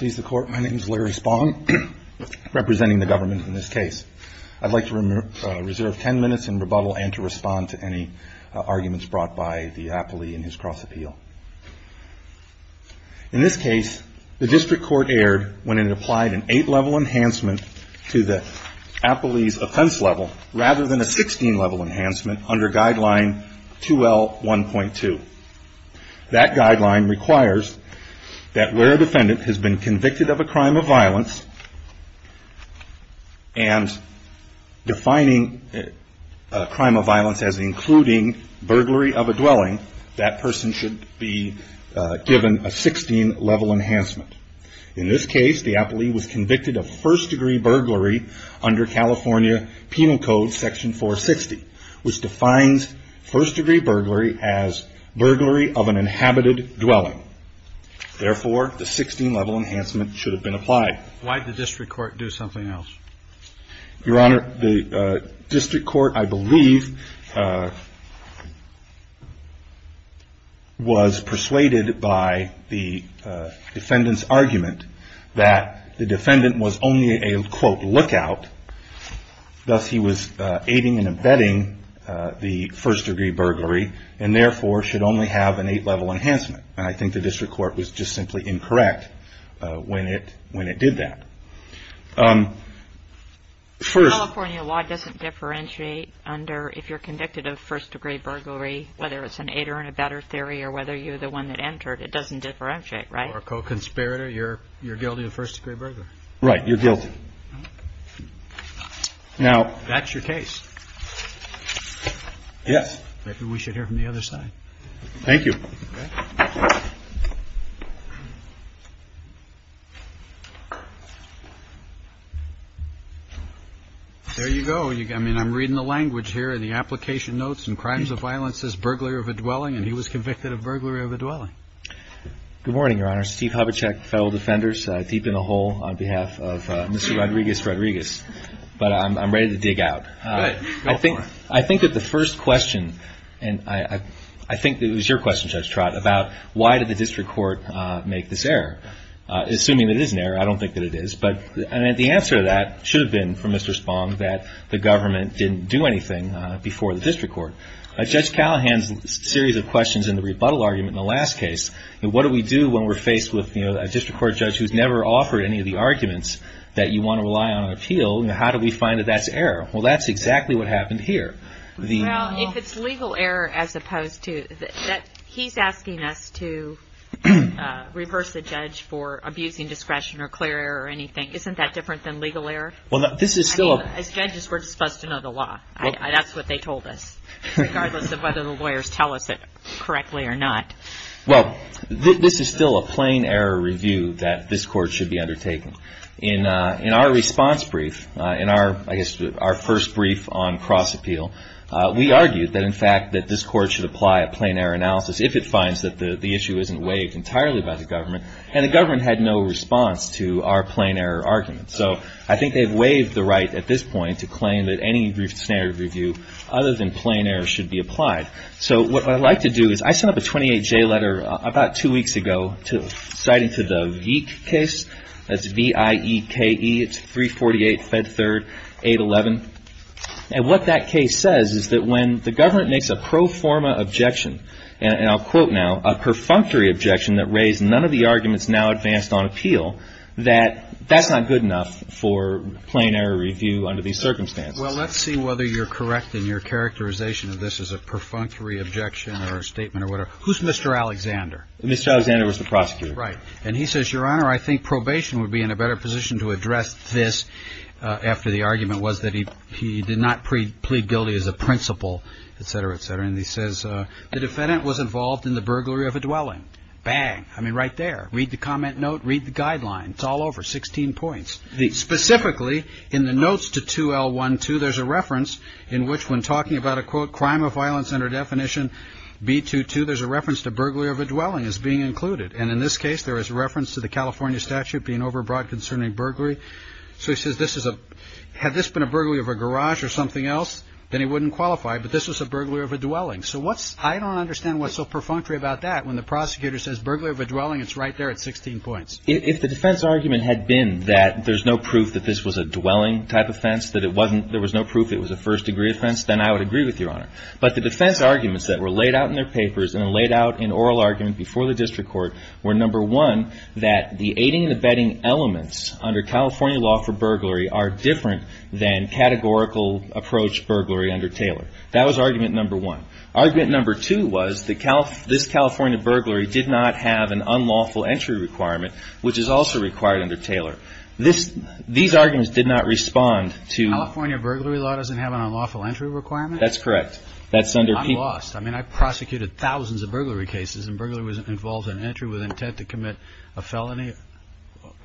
My name is Larry Spong, representing the government in this case. I'd like to reserve ten minutes in rebuttal and to respond to any arguments brought by the appellee in his cross-appeal. In this case, the district court erred when it applied an 8-level enhancement to the appellee's offense level rather than a 16-level enhancement under guideline 2L1.2. That guideline requires that where a defendant has been convicted of a crime of violence and defining a crime of violence as including burglary of a dwelling, that person should be given a 16-level enhancement. In this case, the appellee was convicted of first-degree burglary under California Penal Code Section 460, which defines first-degree burglary as burglary of an inhabited dwelling. Therefore, the 16-level enhancement should have been applied. Why did the district court do something else? Your Honor, the district court, I believe, was persuaded by the defendant's argument that the defendant was only a, quote, lookout. Thus, he was aiding and abetting the first-degree burglary and, therefore, should only have an 8-level enhancement. I think the district court was just simply incorrect when it did that. First... California law doesn't differentiate under, if you're convicted of first-degree burglary, whether it's an 8 or an abetter theory or whether you're the one that entered, it doesn't differentiate, right? Or a co-conspirator, you're guilty of first-degree burglary. Right, you're guilty. Now... That's your case. Yes. Maybe we should hear from the other side. Thank you. There you go. I mean, I'm reading the language here, and the application notes, and crimes of violence as burglary of a dwelling, and he was convicted of burglary of a dwelling. Good morning, Your Honor. Steve Hubachek, Federal Defenders, deep in the hole on behalf of Mr. Rodriguez-Rodriguez. But I'm ready to dig out. Go for it. I think that the first question, and I think that it was your question, Judge Trott, about why did the district court make this error? Assuming that it is an error, I don't think that it is. But the answer to that should have been from Mr. Spong that the government didn't do anything before the district court. Judge Callahan's series of questions in the rebuttal argument in the last case, what do we do when we're faced with a district court judge who's never offered any of the arguments that you want to rely on an appeal? How do we find that that's error? Well, that's exactly what happened here. Well, if it's legal error as opposed to, he's asking us to reverse the judge for abusing discretion or clear error or anything. Isn't that different than legal error? Well, this is still a I mean, as judges, we're supposed to know the law. That's what they told us, regardless of whether the lawyers tell us it correctly or not. Well, this is still a plain error review that this court should be undertaking. In our response brief, in our, I guess, our first brief on cross-appeal, we argued that, in fact, that this court should apply a plain error analysis if it finds that the issue isn't waived entirely by the government. And the government had no response to our plain error argument. So I think they've waived the right at this point to claim that any standard review other than plain error should be applied. So what I'd like to do is I sent up a 28-J letter about two weeks ago citing to the Veek case. That's V-I-E-K-E. It's 348 Fed Third 811. And what that case says is that when the government makes a pro forma objection, and I'll quote now, a perfunctory objection that raised none of the arguments now advanced on appeal, that that's not good enough for plain error review under these circumstances. Well, let's see whether you're correct in your characterization of this as a perfunctory objection or a statement or whatever. Who's Mr. Alexander? Mr. Alexander was the prosecutor. Right. And he says, Your Honor, I think probation would be in a better position to address this after the argument was that he did not plead guilty as a principal, et cetera, et cetera. And he says the defendant was involved in the burglary of a dwelling. Bang. I mean, right there. Read the comment note. Read the guidelines. It's all over. Sixteen points. Specifically, in the notes to 2L12, there's a reference in which when talking about a, quote, crime of violence under definition B22, there's a reference to burglary of a dwelling as being included. And in this case, there is a reference to the California statute being overbought concerning burglary. So he says this is a, had this been a burglary of a garage or something else, then he wouldn't qualify, but this was a burglary of a dwelling. So what's, I don't understand what's so perfunctory about that when the prosecutor says burglary of a dwelling, it's right there at 16 points. If the defense argument had been that there's no proof that this was a dwelling type offense, that it wasn't, there was no proof it was a first degree offense, then I would agree with Your Honor. But the defense arguments that were laid out in oral argument before the district court were, number one, that the aiding and abetting elements under California law for burglary are different than categorical approach burglary under Taylor. That was argument number one. Argument number two was this California burglary did not have an unlawful entry requirement, which is also required under Taylor. These arguments did not respond to... California burglary law doesn't have an unlawful entry requirement? That's correct. I'm lost. I mean, I prosecuted thousands of burglary cases, and burglary involves an entry with intent to commit a felony.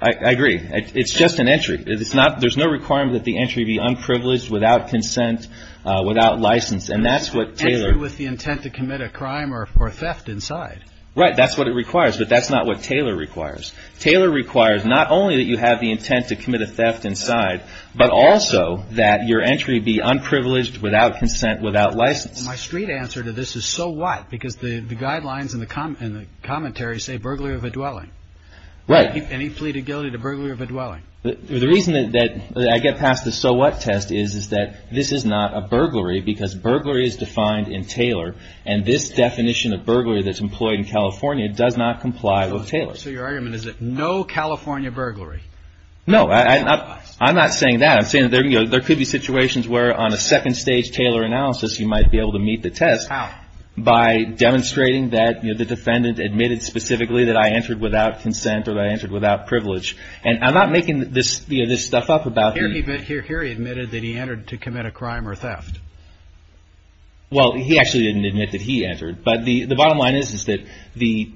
I agree. It's just an entry. There's no requirement that the entry be unprivileged, without consent, without license. And that's what Taylor... Entry with the intent to commit a crime or theft inside. Right. That's what it requires. But that's not what Taylor requires. Taylor requires not only that you have the intent to commit a theft inside, but also that your entry be unprivileged, without consent, without license. My street answer to this is, so what? Because the guidelines and the commentaries say burglary of a dwelling. Right. And he pleaded guilty to burglary of a dwelling. The reason that I get past the so what test is that this is not a burglary, because burglary is defined in Taylor, and this definition of burglary that's employed in California does not comply with Taylor. So your argument is that no California burglary? No. I'm not saying that. I'm saying that there could be situations where on a basis that I was able to meet the test. How? By demonstrating that the defendant admitted specifically that I entered without consent or that I entered without privilege. And I'm not making this stuff up about... Here he admitted that he entered to commit a crime or theft. Well, he actually didn't admit that he entered. But the bottom line is that the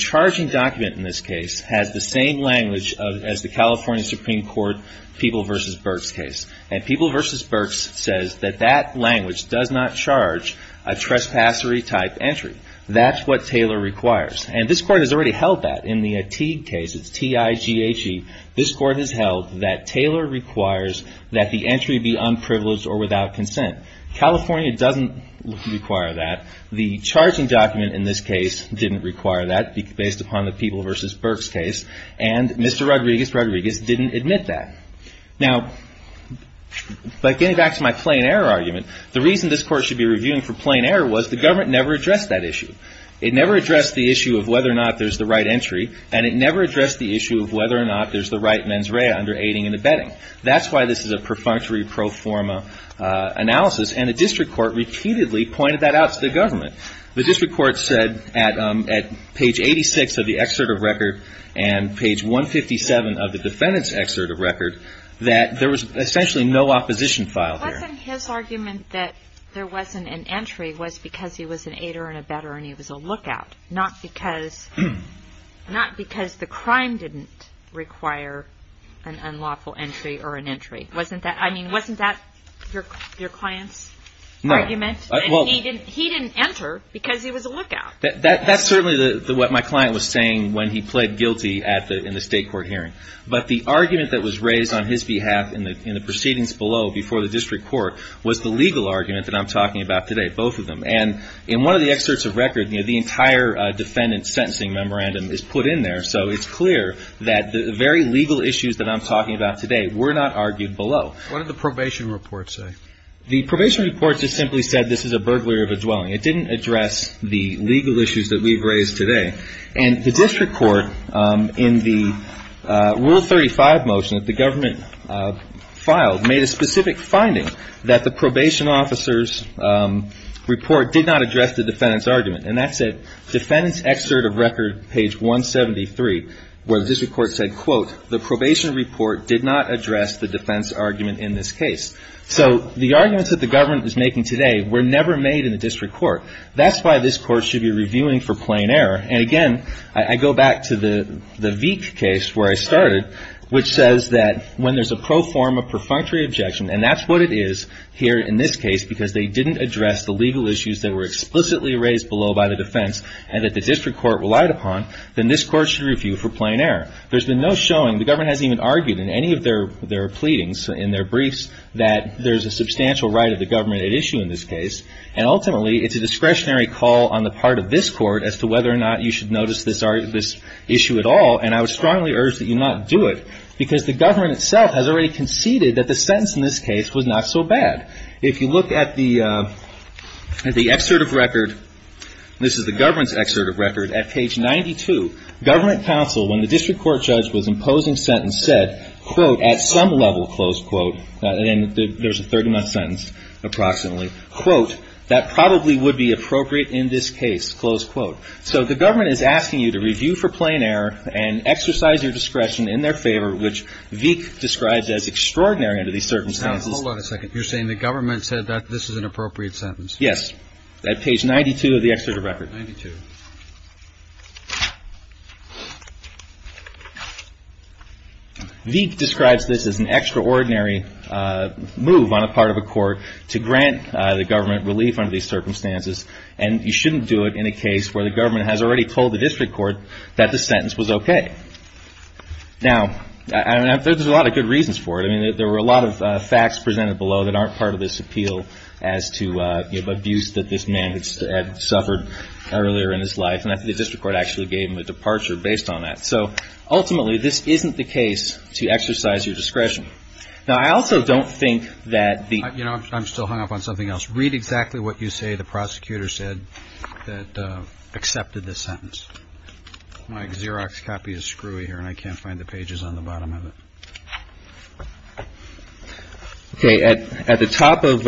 charging document in this case has the same language as the California Supreme Court People v. Burks case. And People v. Burks says that that language does not charge a trespassery type entry. That's what Taylor requires. And this court has already held that in the Ateague case. It's T-I-G-H-E. This court has held that Taylor requires that the entry be unprivileged or without consent. California doesn't require that. The charging document in this case didn't require that based upon the People v. Burks case. And Mr. Rodriguez, Mr. Rodriguez didn't admit that. Now, getting back to my plain error argument, the reason this court should be reviewing for plain error was the government never addressed that issue. It never addressed the issue of whether or not there's the right entry. And it never addressed the issue of whether or not there's the right mens rea under aiding and abetting. That's why this is a perfunctory pro forma analysis. And the district court repeatedly pointed that out to the government. The district court said at page 86 of the excerpt of record and page 157 of the defendant's excerpt of record that there was essentially no opposition filed here. Wasn't his argument that there wasn't an entry was because he was an aider and abetter and he was a lookout? Not because the crime didn't require an unlawful entry or an entry. Wasn't that your client's argument? No. He didn't enter because he was a lookout. That's certainly what my client was saying when he pled guilty in the state court hearing. But the argument that was raised on his behalf in the proceedings below before the district court was the legal argument that I'm talking about today, both of them. And in one of the excerpts of record, the entire defendant's sentencing memorandum is put in there. So it's clear that the very legal issues that I'm talking about today were not argued below. What did the probation report say? The probation report just simply said this is a burglary of a dwelling. It said that the probation report in the Rule 35 motion that the government filed made a specific finding that the probation officer's report did not address the defendant's argument. And that's a defendant's excerpt of record page 173 where the district court said, quote, the probation report did not address the defense argument in this case. So the arguments that the government is making today were never made in the district court. That's why this court should be reviewing for plain error. And again, I go back to the Veek case where I started, which says that when there's a pro forma perfunctory objection, and that's what it is here in this case, because they didn't address the legal issues that were explicitly raised below by the defense and that the district court relied upon, then this court should review for plain error. There's been no showing. The government hasn't even argued in any of their pleadings, in their briefs, that there's a substantial right of the government at issue in this case. And ultimately, it's a you should notice this issue at all, and I would strongly urge that you not do it, because the government itself has already conceded that the sentence in this case was not so bad. If you look at the excerpt of record, this is the government's excerpt of record, at page 92, government counsel, when the district court judge was imposing sentence, said, quote, at some level, close quote, and there's a 30-month sentence approximately, quote, that probably would be appropriate in this case, close quote. So the government is asking you to review for plain error and exercise your discretion in their favor, which Veek describes as extraordinary under these circumstances. Hold on a second. You're saying the government said that this is an appropriate sentence? Yes. At page 92 of the excerpt of record. 92. Veek describes this as an extraordinary move on the part of a court to grant the government relief under these circumstances, and you shouldn't do it in a case where the government has already told the district court that the sentence was okay. Now, there's a lot of good reasons for it. I mean, there were a lot of facts presented below that aren't part of this appeal as to abuse that this man had suffered earlier in his life, and the district court actually gave him a departure based on that. So ultimately this isn't the case to exercise your discretion. Now, I also don't think that the You know, I'm still hung up on something else. Read exactly what you say the prosecutor said that accepted this sentence. My Xerox copy is screwy here, and I can't find the pages on the bottom of it. Okay. At the top of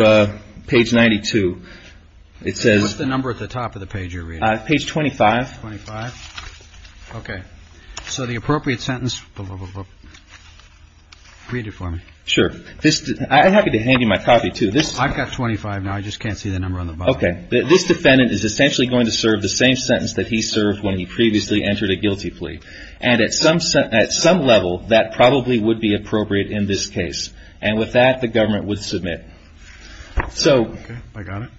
page 92, it says What's the number at the top of the page you're reading? Page 25. Okay. So the appropriate sentence Read it for me. Sure. I'm happy to hand you my copy, too. I've got 25 now. I just can't see the number on the bottom. Okay. This defendant is essentially going to serve the same sentence that he served when he previously entered a guilty plea. And at some level, that probably would be appropriate in this case. And with that, the government would submit. Okay. I got it.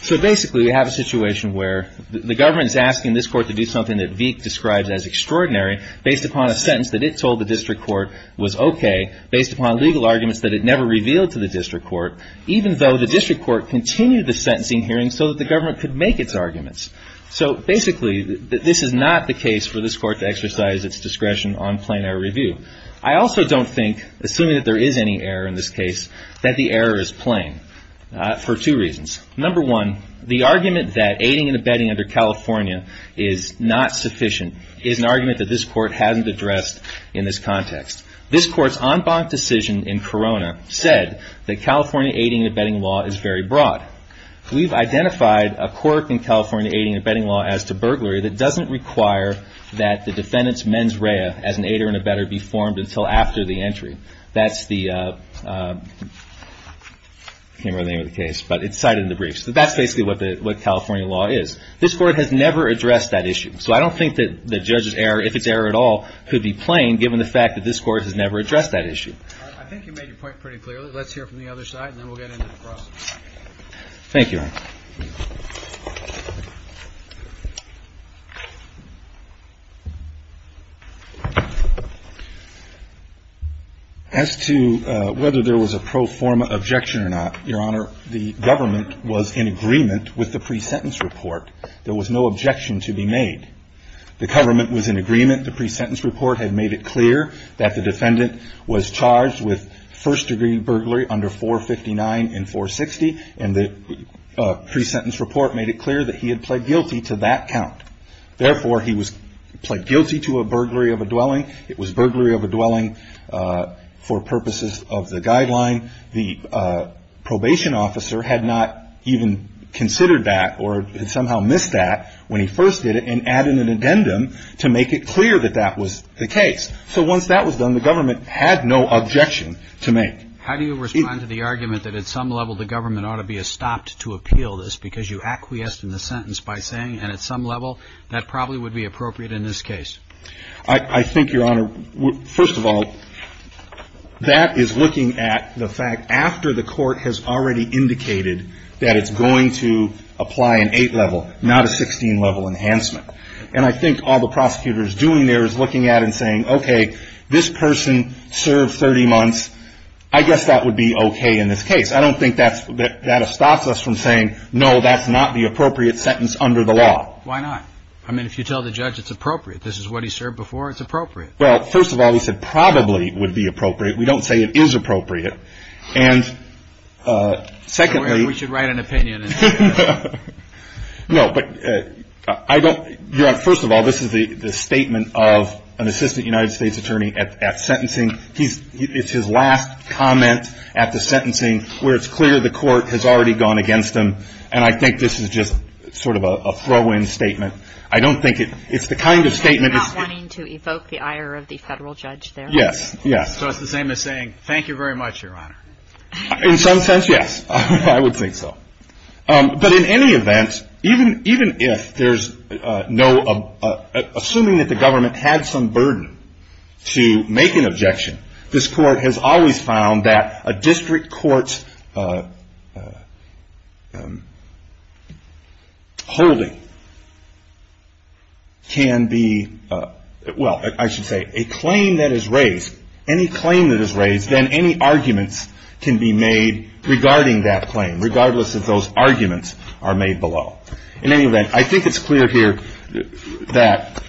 So basically, we have a situation where the government is asking this court to do something that Veek describes as extraordinary based upon a sentence that it told the district court was okay based upon legal arguments that it never revealed to the district court, even though the district court continued the sentencing hearing so that the government could make its arguments. So basically, this is not the case for this court to exercise its discretion on plain error review. I also don't think, assuming that there is any error in this case, that the error is plain for two reasons. Number one, the argument that aiding and abetting under California is not sufficient is an argument that this court hasn't addressed in this context. This court's en banc decision in Corona said that California aiding and abetting law is very broad. We've identified a court in California aiding and abetting law as to burglary that doesn't require that the defendant's mens rea as an aider and abetter be formed until after the entry. That's the I can't remember the name of the case, but it's cited in the briefs. So that's basically what California law is. This court has never addressed that issue. So I don't think that a judge's error, if it's error at all, could be plain given the fact that this court has never addressed that issue. I think you made your point pretty clearly. Let's hear from the other side and then we'll get into the process. Thank you, Your Honor. As to whether there was a pro forma objection or not, Your Honor, the government was in agreement with the pre-sentence report had made it clear that the defendant was charged with first degree burglary under 459 and 460. And the pre-sentence report made it clear that he had pled guilty to that count. Therefore, he was pled guilty to a burglary of a dwelling. It was burglary of a dwelling for purposes of the guideline. The probation officer had not even considered that or had somehow missed that when he first did it and added an addendum to make it clear that that was the case. So once that was done, the government had no objection to make. How do you respond to the argument that at some level the government ought to be stopped to appeal this because you acquiesced in the sentence by saying, and at some level, that probably would be appropriate in this case? I think, Your Honor, first of all, that is looking at the fact after the court has already indicated that it's going to apply an 8-level, not a 16-level enhancement. And I think all the prosecutor is doing there is looking at it and saying, okay, this person served 30 months. I guess that would be okay in this case. I don't think that stops us from saying, no, that's not the appropriate sentence under the law. Why not? I mean, if you tell the judge it's appropriate, this is what he served before, it's appropriate. Well, first of all, he said probably would be appropriate. We don't say it is appropriate. And secondly... We should write an opinion. No, but I don't... Your Honor, first of all, this is the statement of an assistant United States attorney at sentencing. It's his last comment at the sentencing where it's clear the court has already gone against him. And I think this is just sort of a throw-in statement. I don't think it's the kind of statement... You're not wanting to evoke the ire of the Federal judge there? Yes. So it's the same as saying, thank you very much, Your Honor. In some sense, yes. I would think so. But in any event, even if there's no... Assuming that the government had some burden to make an objection, this Court has always found that a district court's holding can be... Well, I should say, a claim that is raised, any claim that is raised, then any arguments can be made regarding that claim, regardless if those arguments are made below. In any event, I think it's clear here that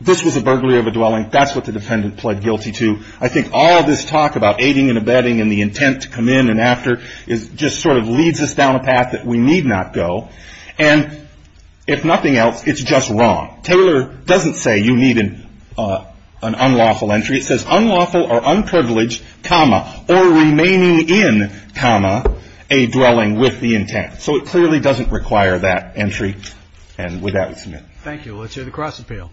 this was a burglary of a dwelling. That's what the defendant pled guilty to. I think all this talk about aiding and abetting and the intent to come in and after just sort of leads us down a path that we need not go. And if nothing else, it's just wrong. Taylor doesn't say you need an unlawful entry. It says, unlawful or remaining in, a dwelling with the intent. So it clearly doesn't require that entry. And with that, we submit. Thank you. Let's hear the cross appeal.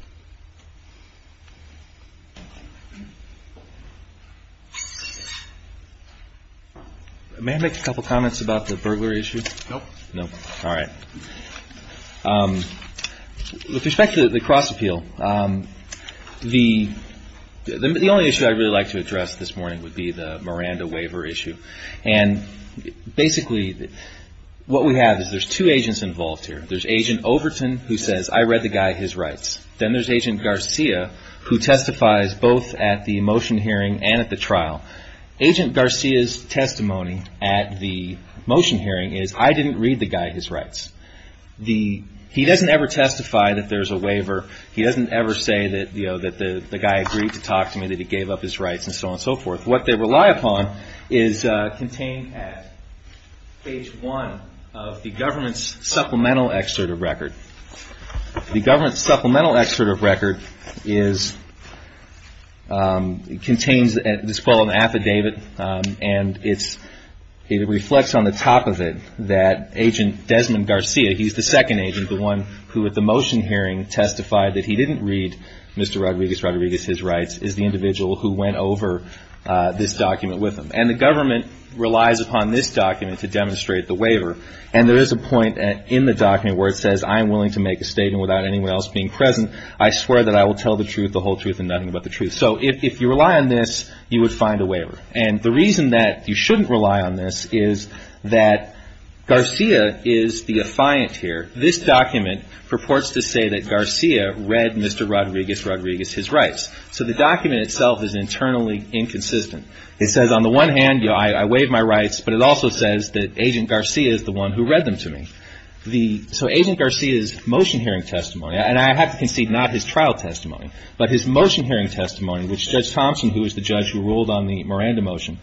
May I make a couple comments about the burglary issue? Nope. With respect to the cross appeal, the only issue I'd really like to address this morning would be the Miranda waiver issue. Basically, what we have is there's two agents involved here. There's Agent Overton who says, I read the guy his rights. Then there's Agent Garcia who testifies both at the motion hearing and at the trial. Agent Garcia's testimony at the motion hearing is I didn't read the guy his rights. He doesn't ever testify that there's a waiver. He doesn't ever say that the guy agreed to so forth. What they rely upon is contained at page one of the government's supplemental excerpt of record. The government's supplemental excerpt of record is contains what's called an affidavit and it reflects on the top of it that Agent Desmond Garcia, he's the second agent, the one who at the motion hearing testified that he didn't read Mr. Rodriguez's rights is the individual who went over this document with him. The government relies upon this document to demonstrate the waiver. There is a point in the document where it says, I'm willing to make a statement without anyone else being present. I swear that I will tell the truth, the whole truth, and nothing but the truth. If you rely on this, you would find a waiver. The reason that you shouldn't rely on this is that Garcia is the affiant here. This document purports to say that Garcia read Mr. Rodriguez's rights. So the document itself is internally inconsistent. It says on the one hand, I waive my rights, but it also says that Agent Garcia is the one who read them to me. So Agent Garcia's motion hearing testimony and I have to concede, not his trial testimony, but his motion hearing testimony which Judge Thompson, who is the judge who ruled on the Miranda motion,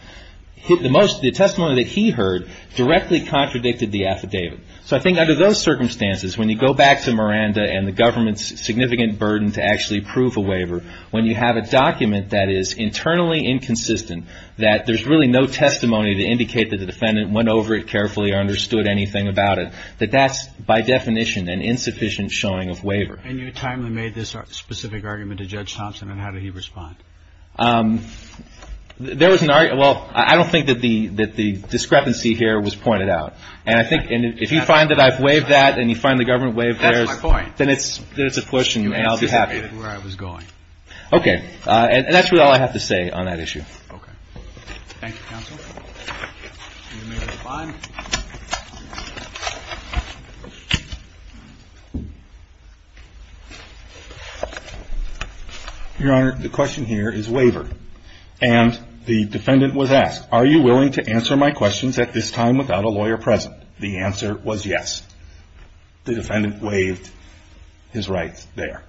the testimony that he heard directly contradicted the affidavit. So I think under those circumstances, when you go back to Miranda and the government's significant burden to actually prove a waiver, when you have a document that is internally inconsistent, that there's really no testimony to indicate that the defendant went over it carefully or understood anything about it, that that's by definition an insufficient showing of waiver. And you timely made this specific argument to Judge Thompson and how did he respond? There was an argument, well, I don't think that the discrepancy here was pointed out. And I think, if you find that I've waived that and you find the government waived theirs, then it's a question and I'll be happy. Okay. And that's all I have to say on that issue. Thank you, counsel. Your Honor, the question here is waivered. And the defendant was asked, are you willing to answer my questions at this time without a lawyer present? The answer was yes. The defendant waived his rights there.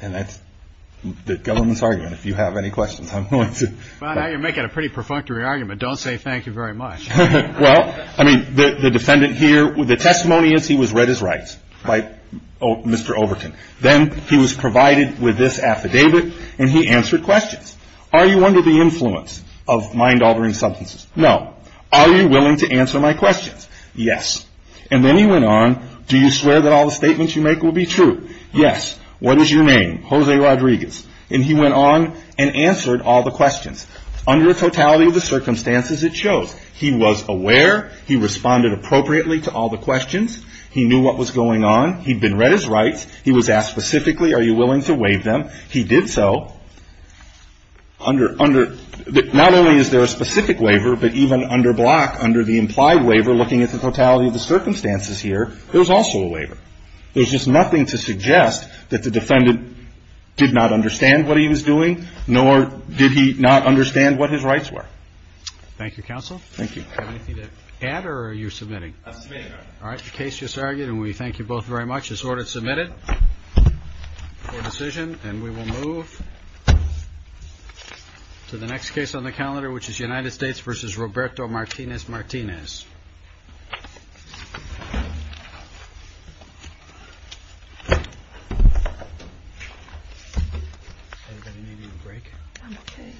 And that's the government's argument. If you have any questions, I'm going to Well, now you're making a pretty perfunctory argument. Don't say thank you very much. Well, I mean, the defendant here, the testimony is he was read his rights by Mr. Overton. Then he was provided with this affidavit and he answered questions. Are you under the influence of mind-altering substances? No. Are you willing to answer my questions? Yes. And then he went on, do you swear that all the statements you make will be true? Yes. What is your name? Jose Rodriguez. And he went on and answered all the questions. Under the totality of the circumstances it shows. He was aware. He responded appropriately to all the questions. He knew what was going on. He'd been read his rights. He was asked specifically, are you willing to waive them? He did so. Under, under, not only is there a specific waiver, but even under block, under the implied waiver, looking at the totality of the circumstances here, there's also a waiver. There's just nothing to suggest that the defendant did not understand what he was doing, nor did he not understand what his rights were. Thank you, counsel. Thank you. Do you have anything to add or are you submitting? I've submitted, Your Honor. All right. The case just argued and we thank you both very much. This order is submitted for decision and we will move to the next case on the calendar, which is United States v. Roberto Martinez Martinez. Anybody need a break? I'm okay.